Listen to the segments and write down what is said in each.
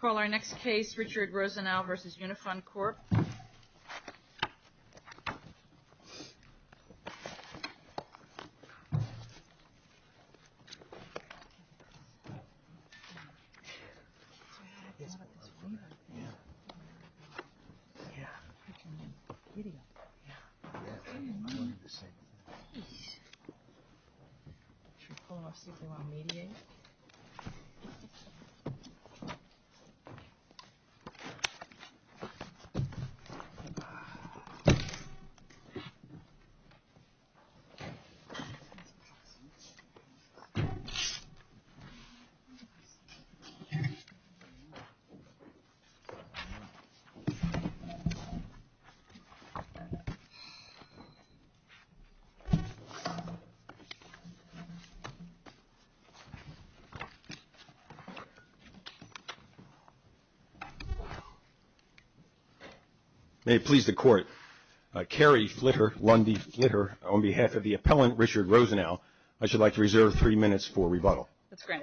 Call our next case, Richard Rosenau v. Unifund Corp. Call our next case, Richard Rosenau v. Unifund Corp. May it please the Court, Carrie Flitter, Lundy Flitter, on behalf of the appellant, Richard Rosenau, I should like to reserve three minutes for rebuttal. That's great.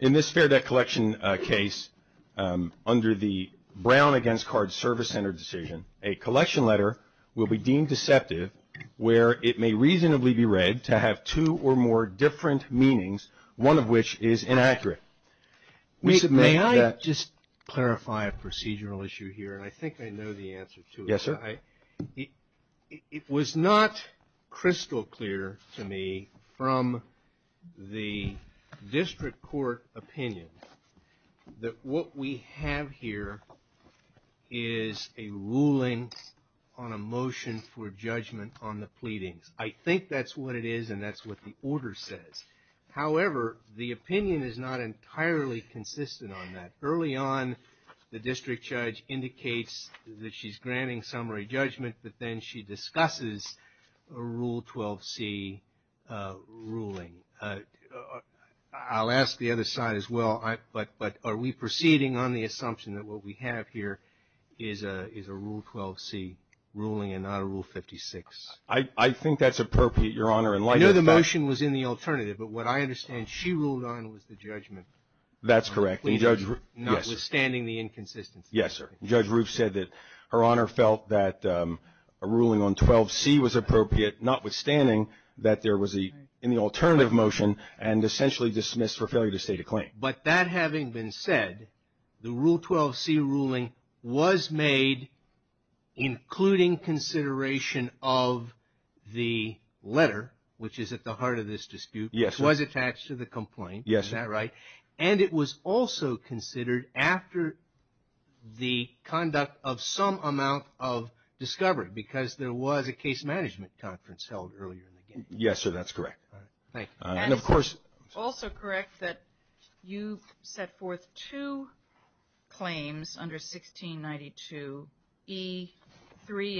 In this fair debt collection case, under the Brown against Card Service Center decision, a collection letter will be deemed deceptive where it may reasonably be read to have two or more different meanings, one of which is inaccurate. May I just clarify a procedural issue here, and I think I know the answer to it. Yes, sir. It was not crystal clear to me from the district court opinion that what we have here is a ruling on a motion for judgment on the pleadings. I think that's what it is, and that's what the order says. However, the opinion is not entirely consistent on that. Early on, the district judge indicates that she's granting summary judgment, but then she discusses a Rule 12c ruling. I'll ask the other side as well, but are we proceeding on the assumption that what we have here is a Rule 12c ruling and not a Rule 56? I think that's appropriate, Your Honor. I know the motion was in the alternative, but what I understand she ruled on was the judgment. That's correct. Notwithstanding the inconsistency. Yes, sir. Judge Roof said that Her Honor felt that a ruling on 12c was appropriate, notwithstanding that there was an alternative motion and essentially dismissed for failure to state a claim. But that having been said, the Rule 12c ruling was made including consideration of the letter, which is at the heart of this dispute. Yes, sir. Which was attached to the complaint. Yes, sir. Is that right? And it was also considered after the conduct of some amount of discovery, because there was a case management conference held earlier in the game. Yes, sir. That's correct. Thank you. And also correct that you set forth two claims under 1692e3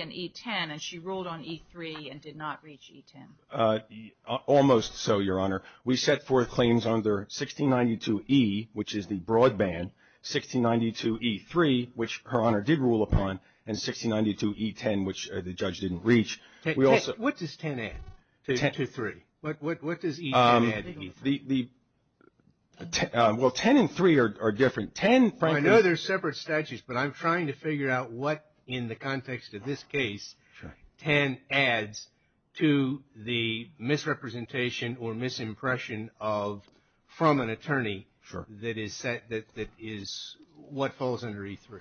and e10, and she ruled on e3 and did not reach e10. Almost so, Your Honor. We set forth claims under 1692e, which is the broadband, 1692e3, which Her Honor did rule upon, and 1692e10, which the judge didn't reach. What does 10 add to 3? What does e10 add to e3? Well, 10 and 3 are different. I know they're separate statutes, but I'm trying to figure out what in the context of this case 10 adds to the misrepresentation or misimpression from an attorney that is what falls under e3.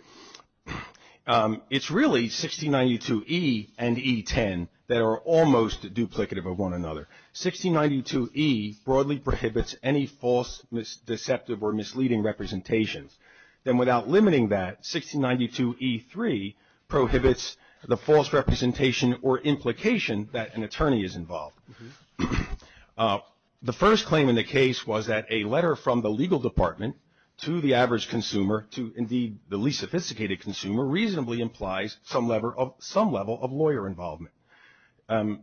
It's really 1692e and e10 that are almost duplicative of one another. 1692e broadly prohibits any false, deceptive, or misleading representations. Then without limiting that, 1692e3 prohibits the false representation or implication that an attorney is involved. The first claim in the case was that a letter from the legal department to the average consumer, to indeed the least sophisticated consumer, reasonably implies some level of lawyer involvement.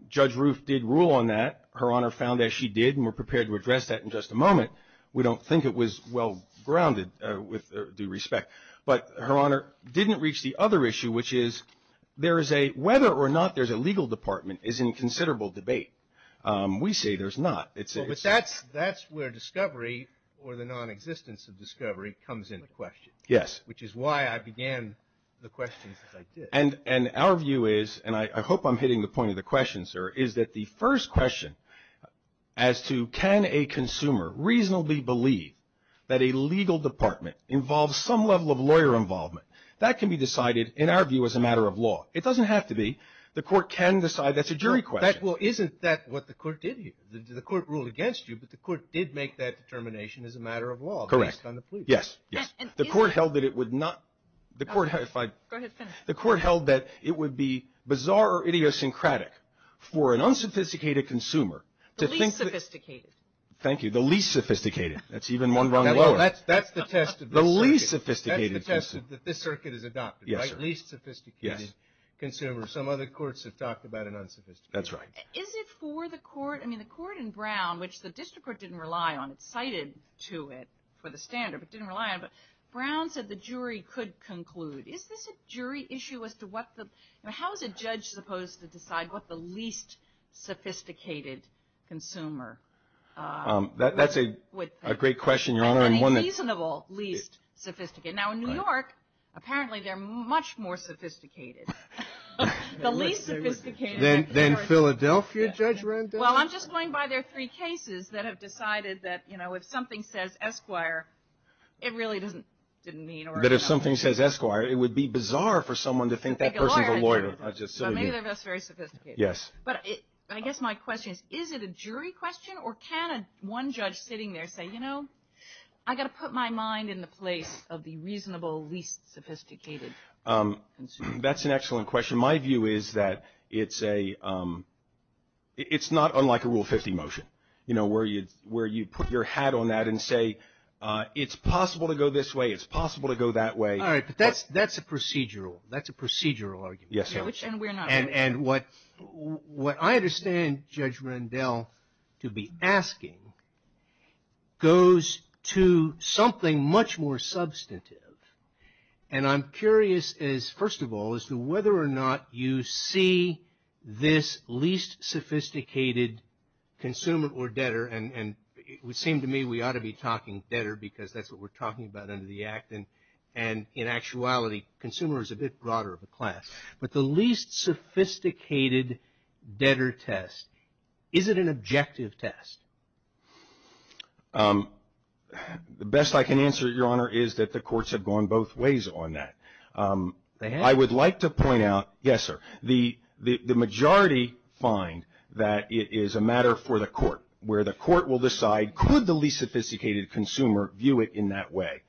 Judge Roof did rule on that. Her Honor found that she did, and we're prepared to address that in just a moment. We don't think it was well-grounded with due respect. But Her Honor didn't reach the other issue, which is whether or not there's a legal department is in considerable debate. We say there's not. But that's where discovery or the nonexistence of discovery comes into question. Yes. Which is why I began the questions as I did. And our view is, and I hope I'm hitting the point of the question, sir, is that the first question as to can a consumer reasonably believe that a legal department involves some level of lawyer involvement, that can be decided, in our view, as a matter of law. It doesn't have to be. The Court can decide. That's a jury question. Well, isn't that what the Court did here? The Court ruled against you, but the Court did make that determination as a matter of law based on the plea. Correct. Yes. Yes. The Court held that it would not. Go ahead. The Court held that it would be bizarre or idiosyncratic for an unsophisticated consumer. The least sophisticated. Thank you. The least sophisticated. That's even one run lower. That's the test of the circuit. The least sophisticated. That's the test that this circuit has adopted, right? Yes, sir. Least sophisticated consumer. Some other courts have talked about an unsophisticated. That's right. Is it for the Court? I mean, the Court in Brown, which the District Court didn't rely on, it cited to it for the standard, but didn't rely on it. Brown said the jury could conclude. Is this a jury issue as to what the, you know, how is a judge supposed to decide what the least sophisticated consumer would think? That's a great question, Your Honor. And a reasonable least sophisticated. Now, in New York, apparently they're much more sophisticated. The least sophisticated. Than Philadelphia, Judge Randell? Well, I'm just going by their three cases that have decided that, you know, if something says Esquire, it really doesn't mean. But if something says Esquire, it would be bizarre for someone to think that person's a lawyer. But maybe they're just very sophisticated. Yes. But I guess my question is, is it a jury question, or can one judge sitting there say, you know, I've got to put my mind in the place of the reasonable least sophisticated consumer? That's an excellent question. My view is that it's not unlike a Rule 50 motion, you know, where you put your hat on that and say, it's possible to go this way. It's possible to go that way. All right. But that's a procedural. That's a procedural argument. Yes. And what I understand Judge Randell to be asking goes to something much more substantive. And I'm curious, first of all, as to whether or not you see this least sophisticated consumer or debtor. And it would seem to me we ought to be talking debtor because that's what we're talking about under the Act. And in actuality, consumer is a bit broader of a class. But the least sophisticated debtor test, is it an objective test? The best I can answer, Your Honor, is that the courts have gone both ways on that. They have? I would like to point out, yes, sir, the majority find that it is a matter for the court, where the court will decide could the least sophisticated consumer view it in that way.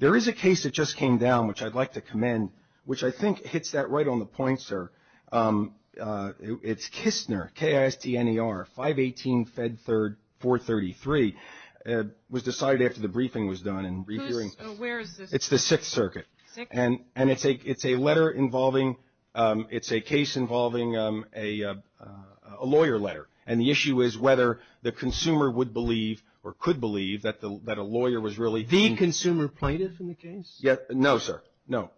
There is a case that just came down, which I'd like to commend, which I think hits that right on the point, sir. It's Kistner, K-I-S-T-N-E-R, 518 Fed 3rd, 433. It was decided after the briefing was done. Who's, where is this? It's the Sixth Circuit. Sixth? And it's a letter involving, it's a case involving a lawyer letter. And the issue is whether the consumer would believe or could believe that a lawyer was really. The consumer plaintiff in the case? No, sir. No.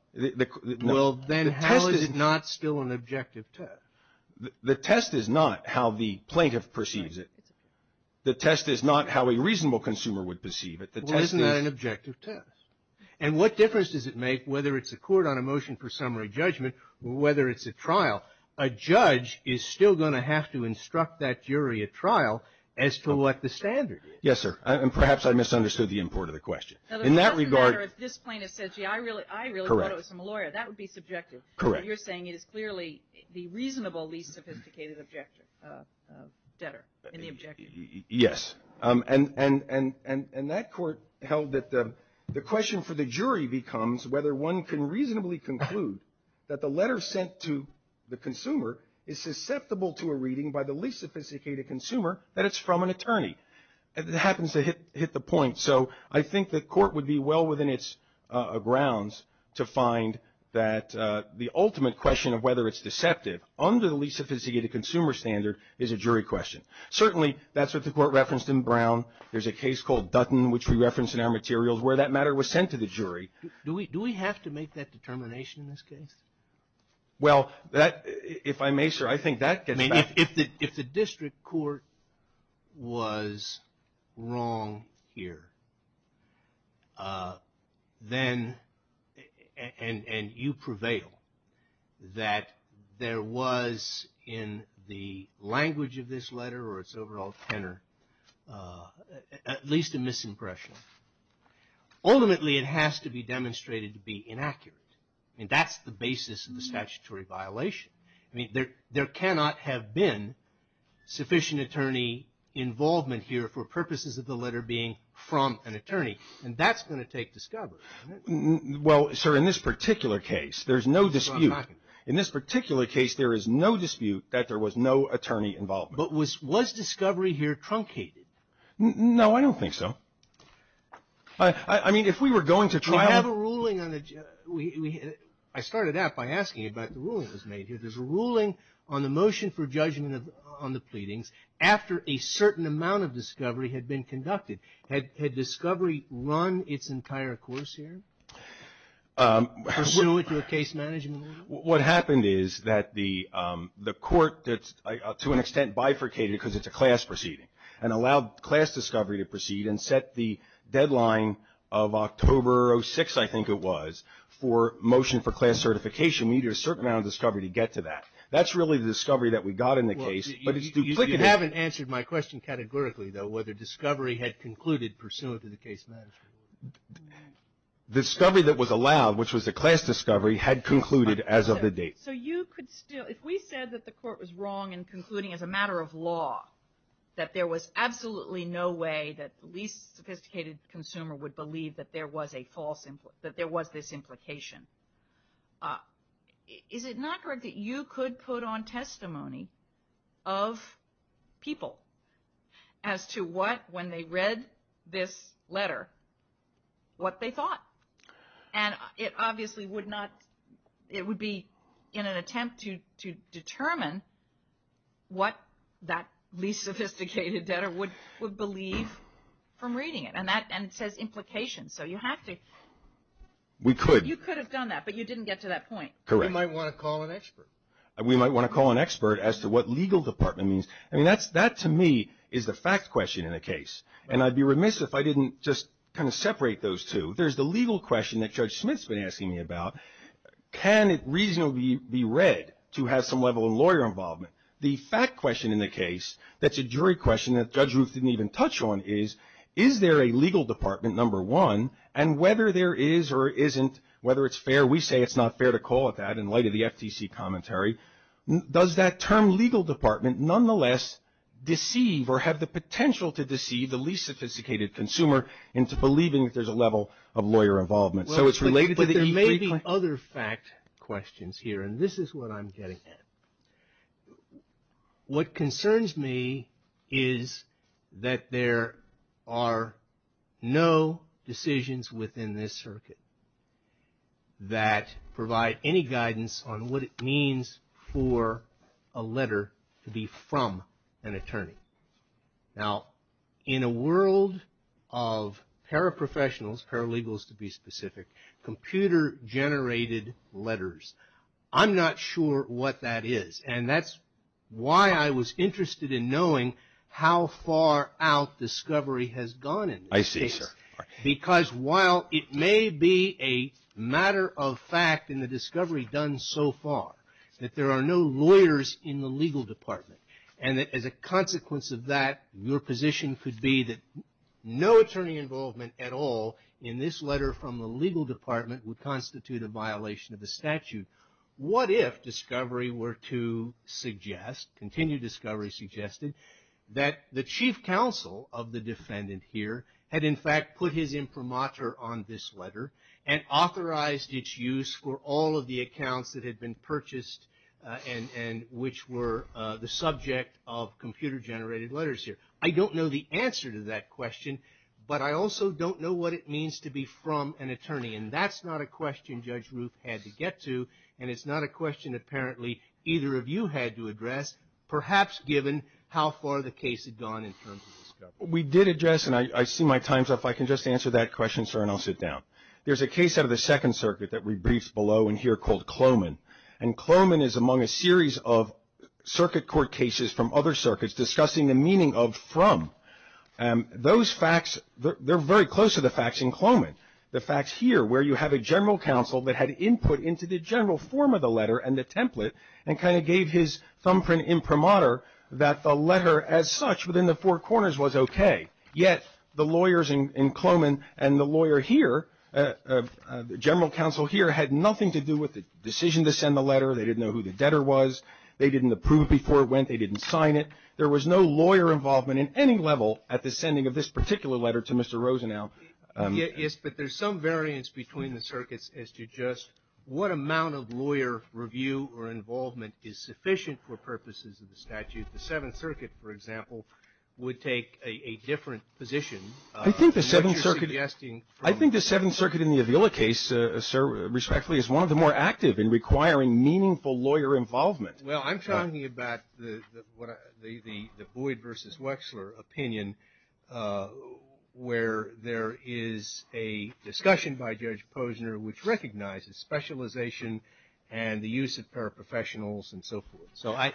Well, then how is it not still an objective test? The test is not how the plaintiff perceives it. The test is not how a reasonable consumer would perceive it. Well, isn't that an objective test? And what difference does it make whether it's a court on a motion for summary judgment or whether it's a trial? A judge is still going to have to instruct that jury at trial as to what the standard is. Yes, sir. And perhaps I misunderstood the import of the question. In that regard. Well, sir, if this plaintiff said, gee, I really thought it was from a lawyer, that would be subjective. Correct. You're saying it is clearly the reasonable least sophisticated debtor in the objection. Yes. And that court held that the question for the jury becomes whether one can reasonably conclude that the letter sent to the consumer is susceptible to a reading by the least sophisticated consumer that it's from an attorney. It happens to hit the point. So I think the court would be well within its grounds to find that the ultimate question of whether it's deceptive under the least sophisticated consumer standard is a jury question. Certainly that's what the court referenced in Brown. There's a case called Dutton, which we referenced in our materials, where that matter was sent to the jury. Do we have to make that determination in this case? Well, if I may, sir, I think that gets back. If the district court was wrong here and you prevail that there was in the language of this letter or its overall tenor at least a misimpression, ultimately it has to be demonstrated to be inaccurate. I mean, that's the basis of the statutory violation. I mean, there cannot have been sufficient attorney involvement here for purposes of the letter being from an attorney. And that's going to take discovery. Well, sir, in this particular case, there's no dispute. In this particular case, there is no dispute that there was no attorney involvement. But was discovery here truncated? No, I don't think so. I mean, if we were going to try to. I started out by asking you about the ruling that was made here. There's a ruling on the motion for judgment on the pleadings after a certain amount of discovery had been conducted. Had discovery run its entire course here, pursuant to a case management ruling? What happened is that the court, to an extent, bifurcated because it's a class proceeding, and allowed class discovery to proceed and set the deadline of October 06, I think it was, for motion for class certification. We needed a certain amount of discovery to get to that. That's really the discovery that we got in the case. You haven't answered my question categorically, though, whether discovery had concluded pursuant to the case management. The discovery that was allowed, which was the class discovery, had concluded as of the date. If we said that the court was wrong in concluding, as a matter of law, that there was absolutely no way that the least sophisticated consumer would believe that there was this implication, is it not correct that you could put on testimony of people as to what, when they read this letter, what they thought? And it obviously would not, it would be in an attempt to determine what that least sophisticated debtor would believe from reading it. And it says implication, so you have to. We could. You could have done that, but you didn't get to that point. Correct. We might want to call an expert. We might want to call an expert as to what legal department means. I mean, that, to me, is the fact question in the case. And I'd be remiss if I didn't just kind of separate those two. There's the legal question that Judge Smith's been asking me about. Can it reasonably be read to have some level of lawyer involvement? The fact question in the case, that's a jury question that Judge Ruth didn't even touch on, is, is there a legal department, number one, and whether there is or isn't, whether it's fair, we say it's not fair to call it that in light of the FTC commentary, does that term legal department nonetheless deceive or have the potential to deceive the least sophisticated consumer into believing that there's a level of lawyer involvement? So it's related to the E3 claim. Well, but there may be other fact questions here, and this is what I'm getting at. What concerns me is that there are no decisions within this circuit that provide any guidance on what it means for a letter to be from an attorney. Now, in a world of paraprofessionals, paralegals to be specific, computer generated letters, I'm not sure what that is, and that's why I was interested in knowing how far out discovery has gone in this case. I see, sir. Because while it may be a matter of fact in the discovery done so far that there are no lawyers in the legal department, and as a consequence of that, your position could be that no attorney involvement at all in this letter from the legal department would constitute a violation of the statute. What if discovery were to suggest, continued discovery suggested, that the chief counsel of the defendant here had in fact put his imprimatur on this letter and authorized its use for all of the accounts that had been purchased and which were the subject of computer generated letters here? I don't know the answer to that question, but I also don't know what it means to be from an attorney, and that's not a question Judge Ruth had to get to, and it's not a question apparently either of you had to address, perhaps given how far the case had gone in terms of discovery. We did address, and I see my time's up. I can just answer that question, sir, and I'll sit down. There's a case out of the Second Circuit that we briefed below in here called Cloman, and Cloman is among a series of circuit court cases from other circuits discussing the meaning of from. Those facts, they're very close to the facts in Cloman. The facts here where you have a general counsel that had input into the general form of the letter and the template and kind of gave his thumbprint imprimatur that the letter as such within the four corners was okay, yet the lawyers in Cloman and the lawyer here, general counsel here, had nothing to do with the decision to send the letter. They didn't know who the debtor was. They didn't approve before it went. They didn't sign it. There was no lawyer involvement in any level at the sending of this particular letter to Mr. Rosenau. Yes, but there's some variance between the circuits as to just what amount of lawyer review or involvement is sufficient for purposes of the statute. The Seventh Circuit, for example, would take a different position. I think the Seventh Circuit in the Avila case, respectfully, is one of the more active in requiring meaningful lawyer involvement. Well, I'm talking about the Boyd versus Wechsler opinion where there is a discussion by Judge Posner which recognizes specialization and the use of paraprofessionals and so forth. So I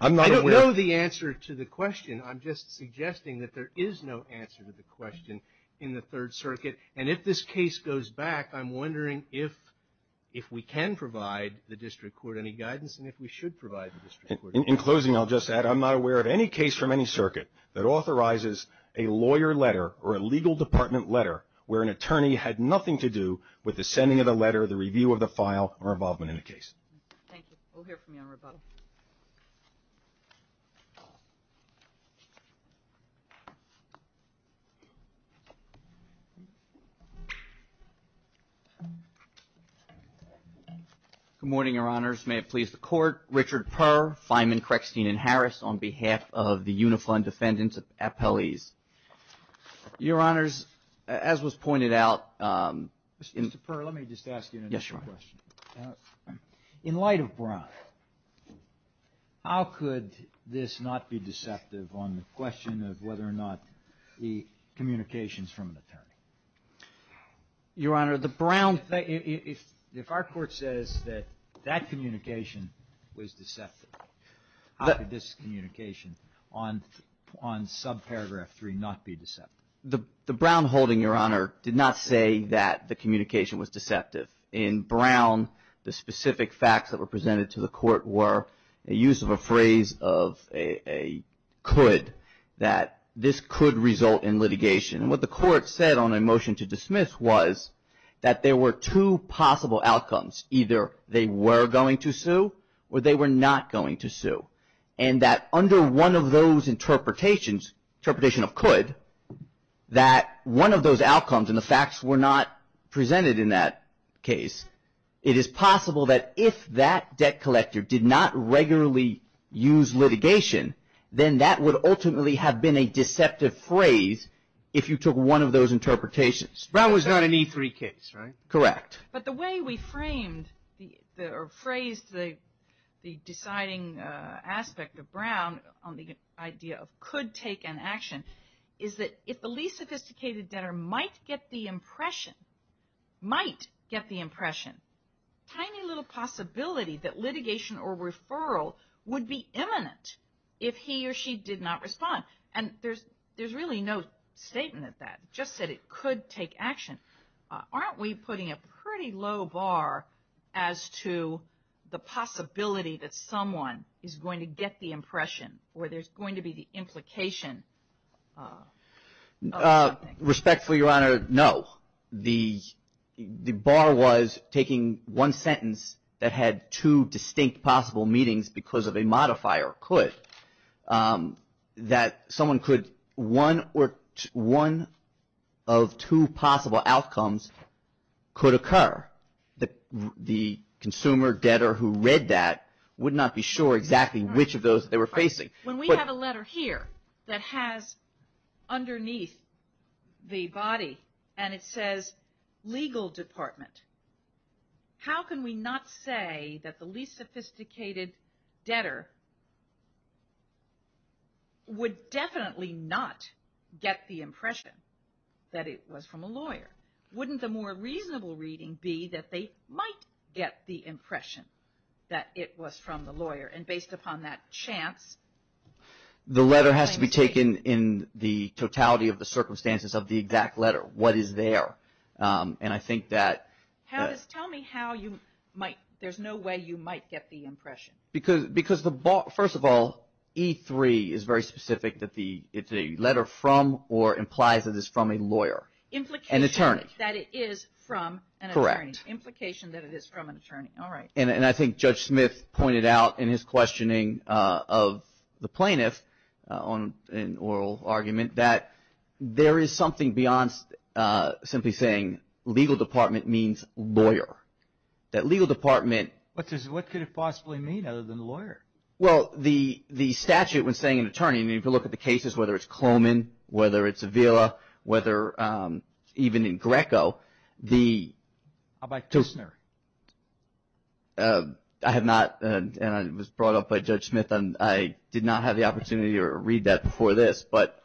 don't know the answer to the question. I'm just suggesting that there is no answer to the question in the Third Circuit. And if this case goes back, I'm wondering if we can provide the district court any guidance and if we should provide the district court any guidance. In closing, I'll just add I'm not aware of any case from any circuit that authorizes a lawyer letter or a legal department letter where an attorney had nothing to do with the sending of the letter, the review of the file, or involvement in the case. Thank you. We'll hear from you on rebuttal. Good morning, Your Honors. May it please the Court. Richard Purr, Feynman, Creckstein, and Harris on behalf of the Unifund Defendants Appellees. Your Honors, as was pointed out in- Mr. Purr, let me just ask you another question. In light of Brown, how could this not be deceptive on the question of whether or not the communications from an attorney? Your Honor, the Brown- If our court says that that communication was deceptive, how could this communication on subparagraph 3 not be deceptive? The Brown holding, Your Honor, did not say that the communication was deceptive. In Brown, the specific facts that were presented to the court were a use of a phrase of a could, that this could result in litigation. And what the court said on a motion to dismiss was that there were two possible outcomes. Either they were going to sue or they were not going to sue. And that under one of those interpretations, interpretation of could, that one of those outcomes and the facts were not presented in that case, it is possible that if that debt collector did not regularly use litigation, then that would ultimately have been a deceptive phrase if you took one of those interpretations. Brown was not an E3 case, right? Correct. But the way we framed or phrased the deciding aspect of Brown on the idea of could take an action is that if the least sophisticated debtor might get the impression, might get the impression, tiny little possibility that litigation or referral would be imminent if he or she did not respond. And there's really no statement of that. It just said it could take action. Aren't we putting a pretty low bar as to the possibility that someone is going to get the impression or there's going to be the implication of something? Respectfully, Your Honor, no. The bar was taking one sentence that had two distinct possible meetings because of a modifier, could, that someone could, one of two possible outcomes could occur. The consumer debtor who read that would not be sure exactly which of those they were facing. When we have a letter here that has underneath the body and it says legal department, how can we not say that the least sophisticated debtor would definitely not get the impression that it was from a lawyer? Wouldn't the more reasonable reading be that they might get the impression that it was from the lawyer? And based upon that chance... The letter has to be taken in the totality of the circumstances of the exact letter. What is there? And I think that... Tell me how you might, there's no way you might get the impression. Because the bar, first of all, E3 is very specific that the letter from or implies that it's from a lawyer. Implication that it is from an attorney. Correct. Implication that it is from an attorney. All right. And I think Judge Smith pointed out in his questioning of the plaintiff in oral argument that there is something beyond simply saying legal department means lawyer. That legal department... What could it possibly mean other than lawyer? Well, the statute was saying an attorney. I mean, if you look at the cases, whether it's Coleman, whether it's Avila, whether even in Greco, the... How about Kusner? I have not, and I was brought up by Judge Smith, and I did not have the opportunity to read that before this. But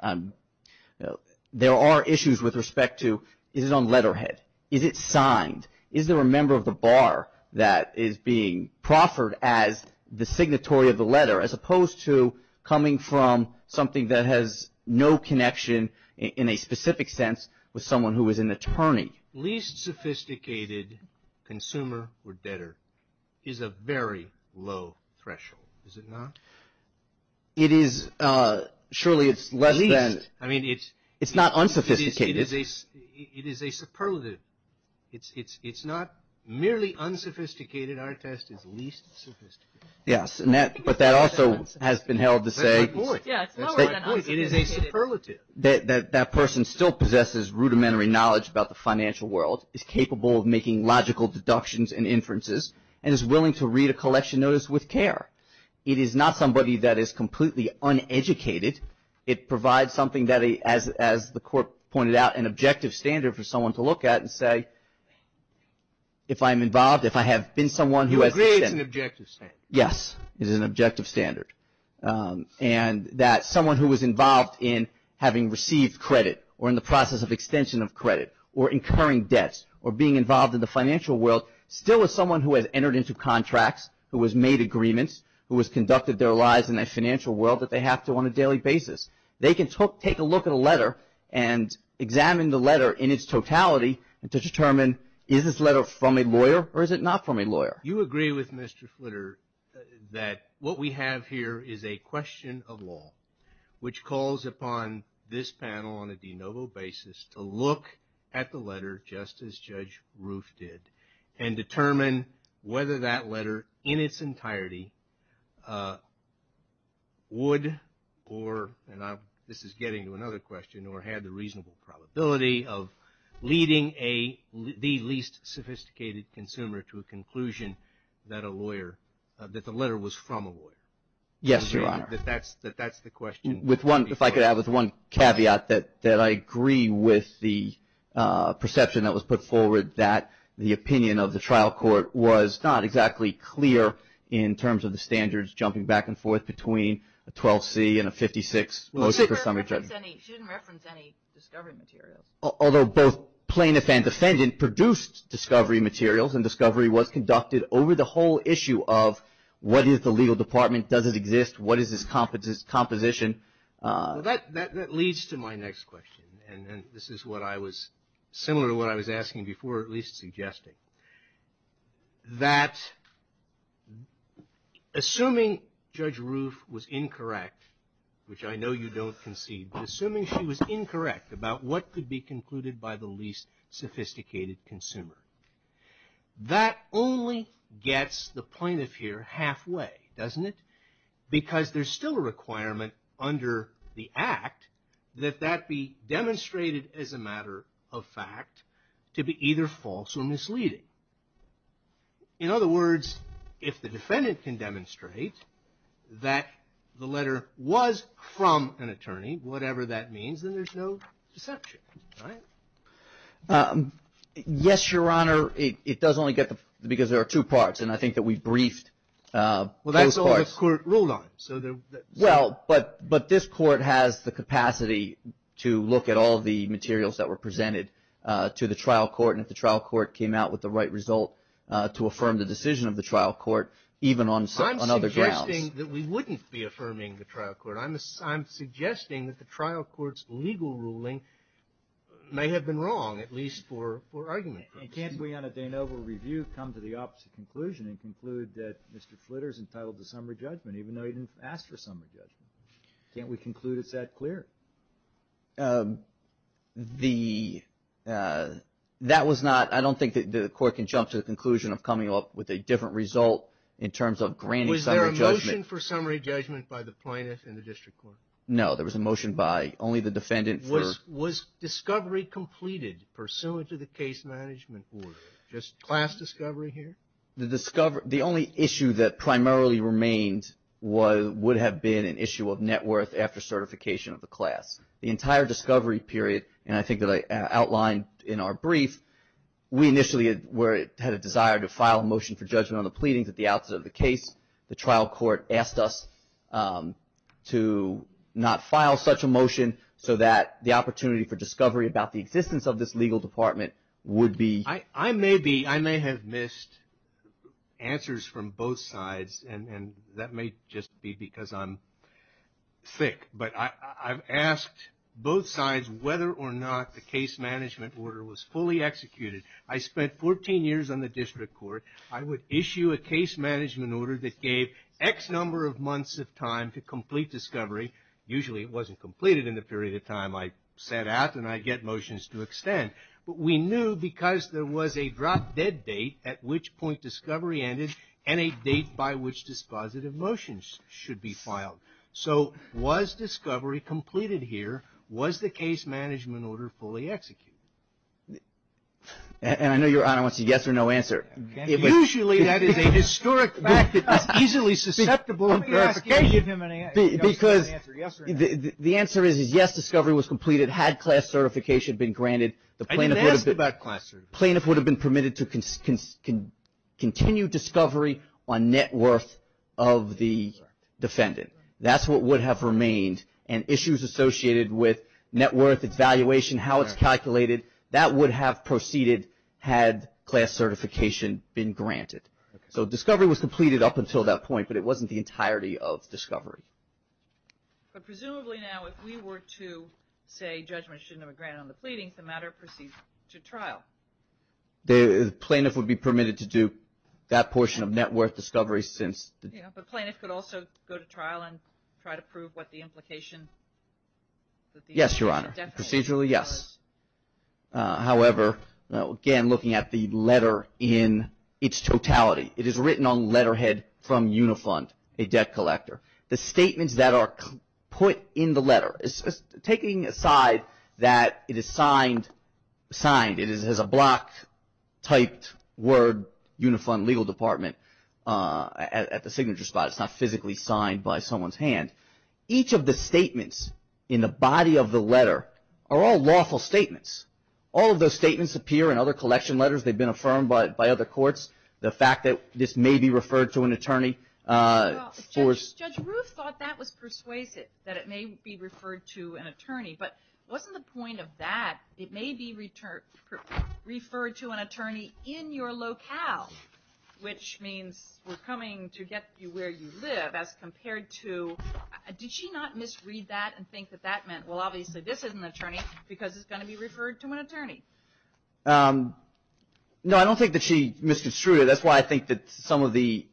there are issues with respect to is it on letterhead? Is it signed? Is there a member of the bar that is being proffered as the signatory of the letter as opposed to coming from something that has no connection in a specific sense with someone who is an attorney? Least sophisticated consumer or debtor is a very low threshold, is it not? It is. Surely it's less than... I mean, it's... It's not unsophisticated. It is a superlative. It's not merely unsophisticated. Our test is least sophisticated. Yes, but that also has been held to say... That's my point. Yeah, it's lower than unsophisticated. It is a superlative. That person still possesses rudimentary knowledge about the financial world, is capable of making logical deductions and inferences, and is willing to read a collection notice with care. It is not somebody that is completely uneducated. It provides something that, as the Court pointed out, an objective standard for someone to look at and say, if I'm involved, if I have been someone who has... Who agrees it's an objective standard. Yes, it is an objective standard. And that someone who is involved in having received credit, or in the process of extension of credit, or incurring debts, or being involved in the financial world, still is someone who has entered into contracts, who has made agreements, who has conducted their lives in that financial world that they have to on a daily basis. They can take a look at a letter and examine the letter in its totality and to determine is this letter from a lawyer or is it not from a lawyer. You agree with Mr. Flitter that what we have here is a question of law, which calls upon this panel on a de novo basis to look at the letter just as Judge Roof did and determine whether that letter in its entirety would or, and this is getting to another question, or had the reasonable probability of leading the least sophisticated consumer to a conclusion that a lawyer, that the letter was from a lawyer. Yes, Your Honor. That that's the question. If I could add with one caveat that I agree with the perception that was put forward that the opinion of the trial court was not exactly clear in terms of the standards jumping back and forth between a 12C and a 56. She didn't reference any discovery materials. Although both plaintiff and defendant produced discovery materials and discovery was conducted over the whole issue of what is the legal department, does it exist, what is its composition. That leads to my next question and this is what I was, similar to what I was asking before, or at least suggesting, that assuming Judge Roof was incorrect, which I know you don't concede, but assuming she was incorrect about what could be concluded by the least sophisticated consumer. That only gets the plaintiff here halfway, doesn't it? Because there's still a requirement under the act that that be demonstrated as a matter of fact to be either false or misleading. In other words, if the defendant can demonstrate that the letter was from an attorney, whatever that means, then there's no deception, right? Yes, Your Honor. It does only get the, because there are two parts and I think that we've briefed both parts. Well, that's all the court ruled on. Well, but this court has the capacity to look at all the materials that were presented to the trial court and if the trial court came out with the right result to affirm the decision of the trial court, even on other grounds. I'm suggesting that we wouldn't be affirming the trial court. I'm suggesting that the trial court's legal ruling may have been wrong, at least for argument purposes. And can't we on a de novo review come to the opposite conclusion and conclude that Mr. Flitter's entitled to summary judgment even though he didn't ask for summary judgment? Can't we conclude it's that clear? The, that was not, I don't think that the court can jump to the conclusion of coming up with a different result in terms of granting summary judgment. Was there a motion for summary judgment by the plaintiff in the district court? No, there was a motion by only the defendant for. Was discovery completed pursuant to the case management order? Just class discovery here? The discovery, the only issue that primarily remained would have been an issue of net worth after certification of the class. The entire discovery period, and I think that I outlined in our brief, we initially had a desire to file a motion for judgment on the pleadings at the outset of the case. The trial court asked us to not file such a motion so that the opportunity for discovery about the existence of this legal department would be. I may be, I may have missed answers from both sides and that may just be because I'm thick. But I've asked both sides whether or not the case management order was fully executed. I spent 14 years on the district court. I would issue a case management order that gave X number of months of time to complete discovery. Usually it wasn't completed in the period of time I set out and I get motions to extend. But we knew because there was a drop dead date at which point discovery ended and a date by which dispositive motions should be filed. So was discovery completed here? Was the case management order fully executed? And I know Your Honor wants a yes or no answer. Usually that is a historic fact that is easily susceptible in verification. Because the answer is yes, discovery was completed had class certification been granted. The plaintiff would have been permitted to continue discovery on net worth of the defendant. That's what would have remained. And issues associated with net worth, its valuation, how it's calculated, that would have proceeded had class certification been granted. So discovery was completed up until that point, but it wasn't the entirety of discovery. But presumably now if we were to say judgment shouldn't have been granted on the pleadings, the matter proceeds to trial. The plaintiff would be permitted to do that portion of net worth discovery since. Yeah, but plaintiff could also go to trial and try to prove what the implication. Yes, Your Honor. Procedurally, yes. However, again looking at the letter in its totality, it is written on letterhead from Unifund, a debt collector. The statements that are put in the letter, taking aside that it is signed, it has a block typed word Unifund Legal Department at the signature spot. It's not physically signed by someone's hand. Each of the statements in the body of the letter are all lawful statements. All of those statements appear in other collection letters. They've been affirmed by other courts. The fact that this may be referred to an attorney. Judge Roof thought that was persuasive, that it may be referred to an attorney. But it wasn't the point of that. It may be referred to an attorney in your locale. Which means we're coming to get you where you live as compared to, did she not misread that and think that that meant, well obviously this is an attorney because it's going to be referred to an attorney? No, I don't think that she misconstrued it. That's why I think that some of the,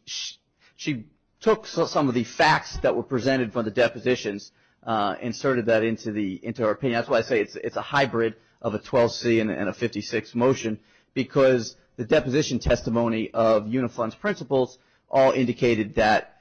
she took some of the facts that were presented for the depositions, inserted that into our opinion. That's why I say it's a hybrid of a 12C and a 56 motion. Because the deposition testimony of Unifund's principles all indicated that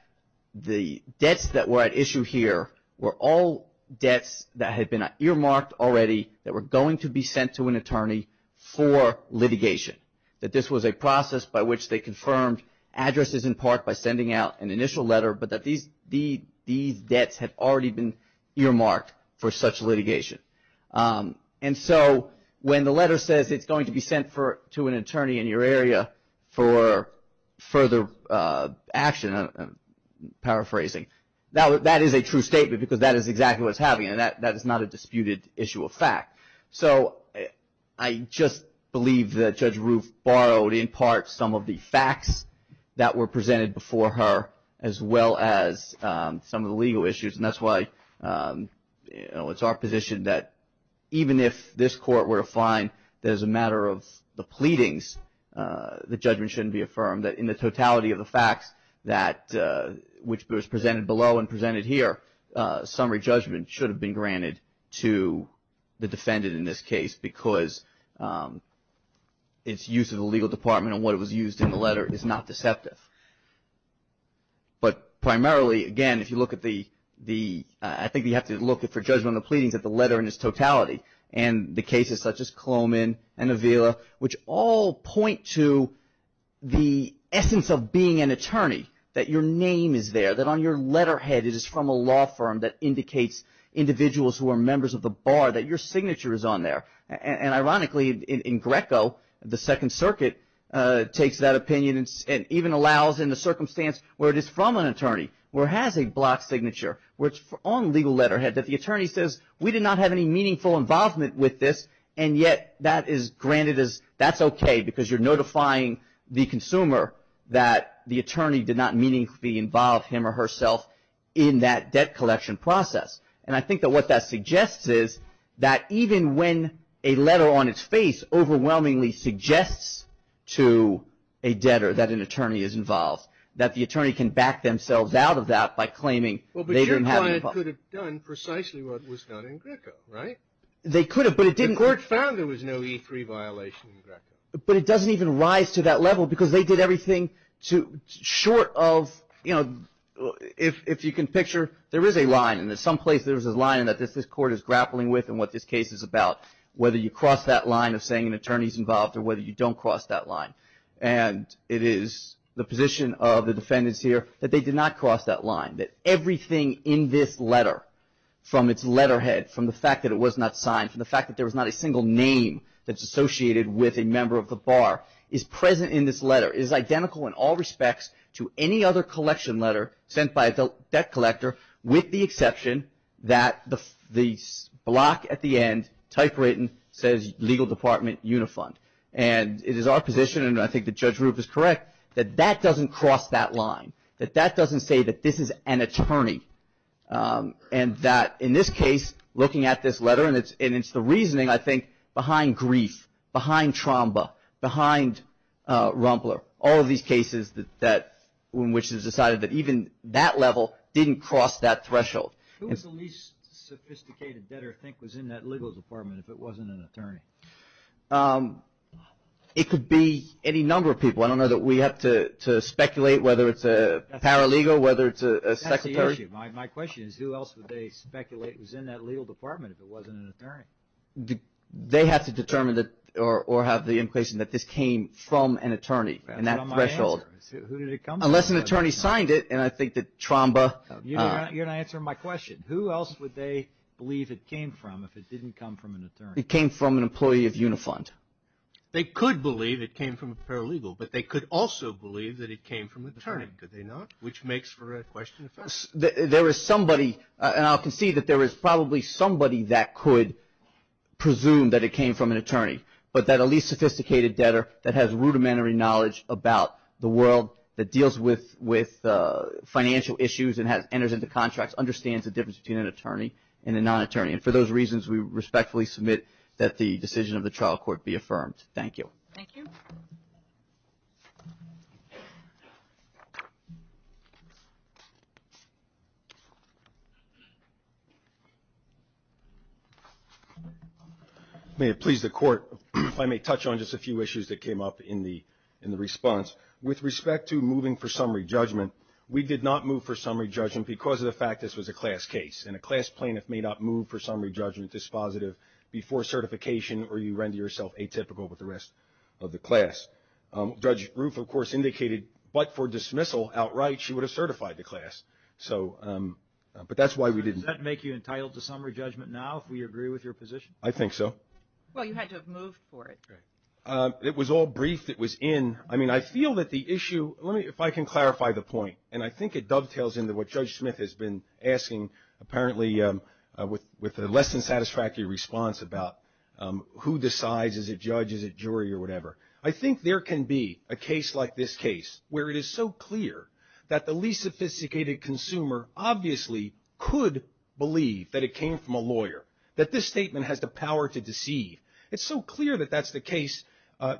the debts that were at issue here were all debts that had been earmarked already that were going to be sent to an attorney for litigation. That this was a process by which they confirmed addresses in part by sending out an initial letter, but that these debts had already been earmarked for such litigation. And so when the letter says it's going to be sent to an attorney in your area for further action, I'm paraphrasing, that is a true statement because that is exactly what's happening. That is not a disputed issue of fact. So I just believe that Judge Roof borrowed in part some of the facts that were presented before her, as well as some of the legal issues. And that's why it's our position that even if this court were to find that as a matter of the pleadings, the judgment shouldn't be affirmed. That in the totality of the facts that, which was presented below and presented here, summary judgment should have been granted to the defendant in this case because its use of the legal department and what it was used in the letter is not deceptive. But primarily, again, if you look at the, I think you have to look for judgment of the pleadings at the letter in its totality and the cases such as Coloman and Avila, which all point to the essence of being an attorney, that your name is there, that on your letterhead it is from a law firm that indicates individuals who are members of the bar, that your signature is on there. And ironically, in Greco, the Second Circuit takes that opinion and even allows in the circumstance where it is from an attorney, where it has a blocked signature, where it's on legal letterhead, that the attorney says, we did not have any meaningful involvement with this, and yet that is granted as that's okay because you're notifying the consumer that the attorney did not meaningfully involve him or herself in that debt collection process. And I think that what that suggests is that even when a letter on its face overwhelmingly suggests to a debtor that an attorney is involved, that the attorney can back themselves out of that by claiming they didn't have any involvement. Well, but your client could have done precisely what was done in Greco, right? They could have, but it didn't. The court found there was no E3 violation in Greco. But it doesn't even rise to that level because they did everything short of, you know, if you can picture, there is a line and in some place there is a line that this court is grappling with and what this case is about, whether you cross that line of saying an attorney is involved or whether you don't cross that line. And it is the position of the defendants here that they did not cross that line, that everything in this letter from its letterhead, from the fact that it was not signed, from the fact that there was not a single name that's associated with a member of the bar, is present in this letter. It is identical in all respects to any other collection letter sent by a debt collector with the exception that the block at the end typewritten says Legal Department Unifund. And it is our position, and I think that Judge Roof is correct, that that doesn't cross that line, that that doesn't say that this is an attorney. And that in this case, looking at this letter, and it's the reasoning, I think, behind grief, behind trauma, behind Rumbler, all of these cases in which it is decided that even that level didn't cross that threshold. Who was the least sophisticated debtor that I think was in that legal department if it wasn't an attorney? It could be any number of people. I don't know that we have to speculate whether it's a paralegal, whether it's a secretary. My question is who else would they speculate was in that legal department if it wasn't an attorney? They have to determine or have the implication that this came from an attorney and that threshold. That's not my answer. Who did it come from? Unless an attorney signed it, and I think that trauma. You're not answering my question. Who else would they believe it came from if it didn't come from an attorney? It came from an employee of Unifund. They could believe it came from a paralegal, but they could also believe that it came from an attorney. Could they not? Which makes for a question. There is somebody, and I'll concede that there is probably somebody that could presume that it came from an attorney, but that a least sophisticated debtor that has rudimentary knowledge about the world, that deals with financial issues and has entered into contracts, understands the difference between an attorney and a non-attorney. And for those reasons, we respectfully submit that the decision of the trial court be affirmed. Thank you. Thank you. May it please the Court if I may touch on just a few issues that came up in the response. With respect to moving for summary judgment, we did not move for summary judgment because of the fact this was a class case, and a class plaintiff may not move for summary judgment dispositive before certification or you render yourself atypical with the rest of the class. Judge Roof, of course, indicated, but for dismissal outright, she would have certified the class. So, but that's why we didn't. Does that make you entitled to summary judgment now if we agree with your position? I think so. Well, you had to have moved for it. It was all briefed. It was in. I mean, I feel that the issue, if I can clarify the point, and I think it dovetails into what Judge Smith has been asking, apparently with a less than satisfactory response about who decides, is it judge, is it jury, or whatever. I think there can be a case like this case where it is so clear that the least sophisticated consumer, obviously, could believe that it came from a lawyer, that this statement has the power to deceive. It's so clear that that's the case.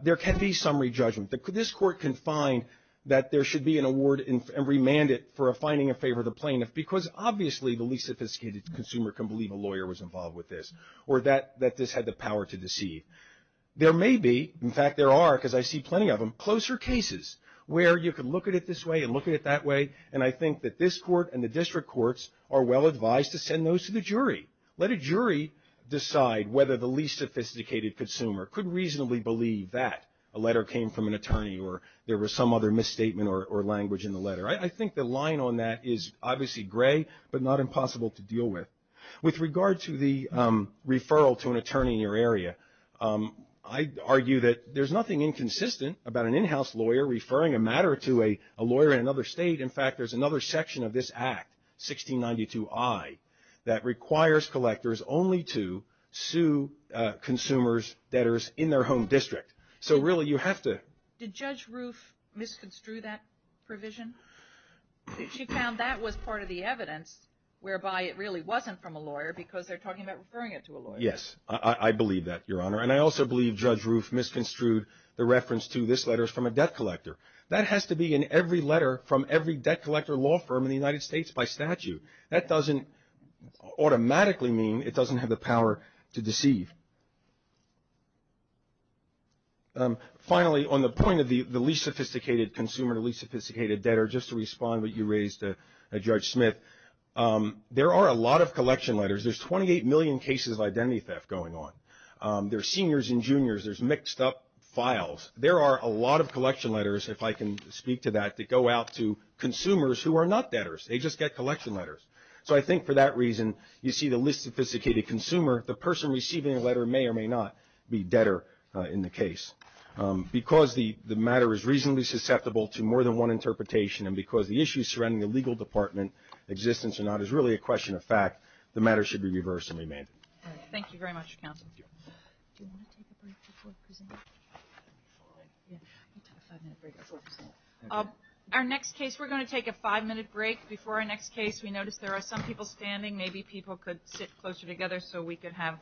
There can be summary judgment. This Court can find that there should be an award and remand it for finding a favor of the plaintiff because obviously the least sophisticated consumer can believe a lawyer was involved with this or that this had the power to deceive. There may be, in fact there are because I see plenty of them, closer cases where you can look at it this way and look at it that way, and I think that this Court and the district courts are well advised to send those to the jury. Let a jury decide whether the least sophisticated consumer could reasonably believe that a letter came from an attorney or there was some other misstatement or language in the letter. I think the line on that is obviously gray, but not impossible to deal with. With regard to the referral to an attorney in your area, I argue that there's nothing inconsistent about an in-house lawyer referring a matter to a lawyer in another state. In fact, there's another section of this Act, 1692I, that requires collectors only to sue consumers, debtors in their home district. So really you have to... Did Judge Roof misconstrue that provision? She found that was part of the evidence whereby it really wasn't from a lawyer because they're talking about referring it to a lawyer. Yes, I believe that, Your Honor. And I also believe Judge Roof misconstrued the reference to this letter from a debt collector. That has to be in every letter from every debt collector law firm in the United States by statute. That doesn't automatically mean it doesn't have the power to deceive. Finally, on the point of the least sophisticated consumer, the least sophisticated debtor, just to respond to what you raised, Judge Smith, there are a lot of collection letters. There's 28 million cases of identity theft going on. There's seniors and juniors. There's mixed up files. There are a lot of collection letters, if I can speak to that, that go out to consumers who are not debtors. They just get collection letters. So I think for that reason, you see the least sophisticated consumer, the person receiving the letter may or may not be debtor in the case. Because the matter is reasonably susceptible to more than one interpretation and because the issues surrounding the legal department, existence or not, is really a question of fact, the matter should be reversed and remanded. Thank you very much, counsel. Our next case, we're going to take a five-minute break. Before our next case, we noticed there are some people standing. Maybe people could sit closer together so we could have this.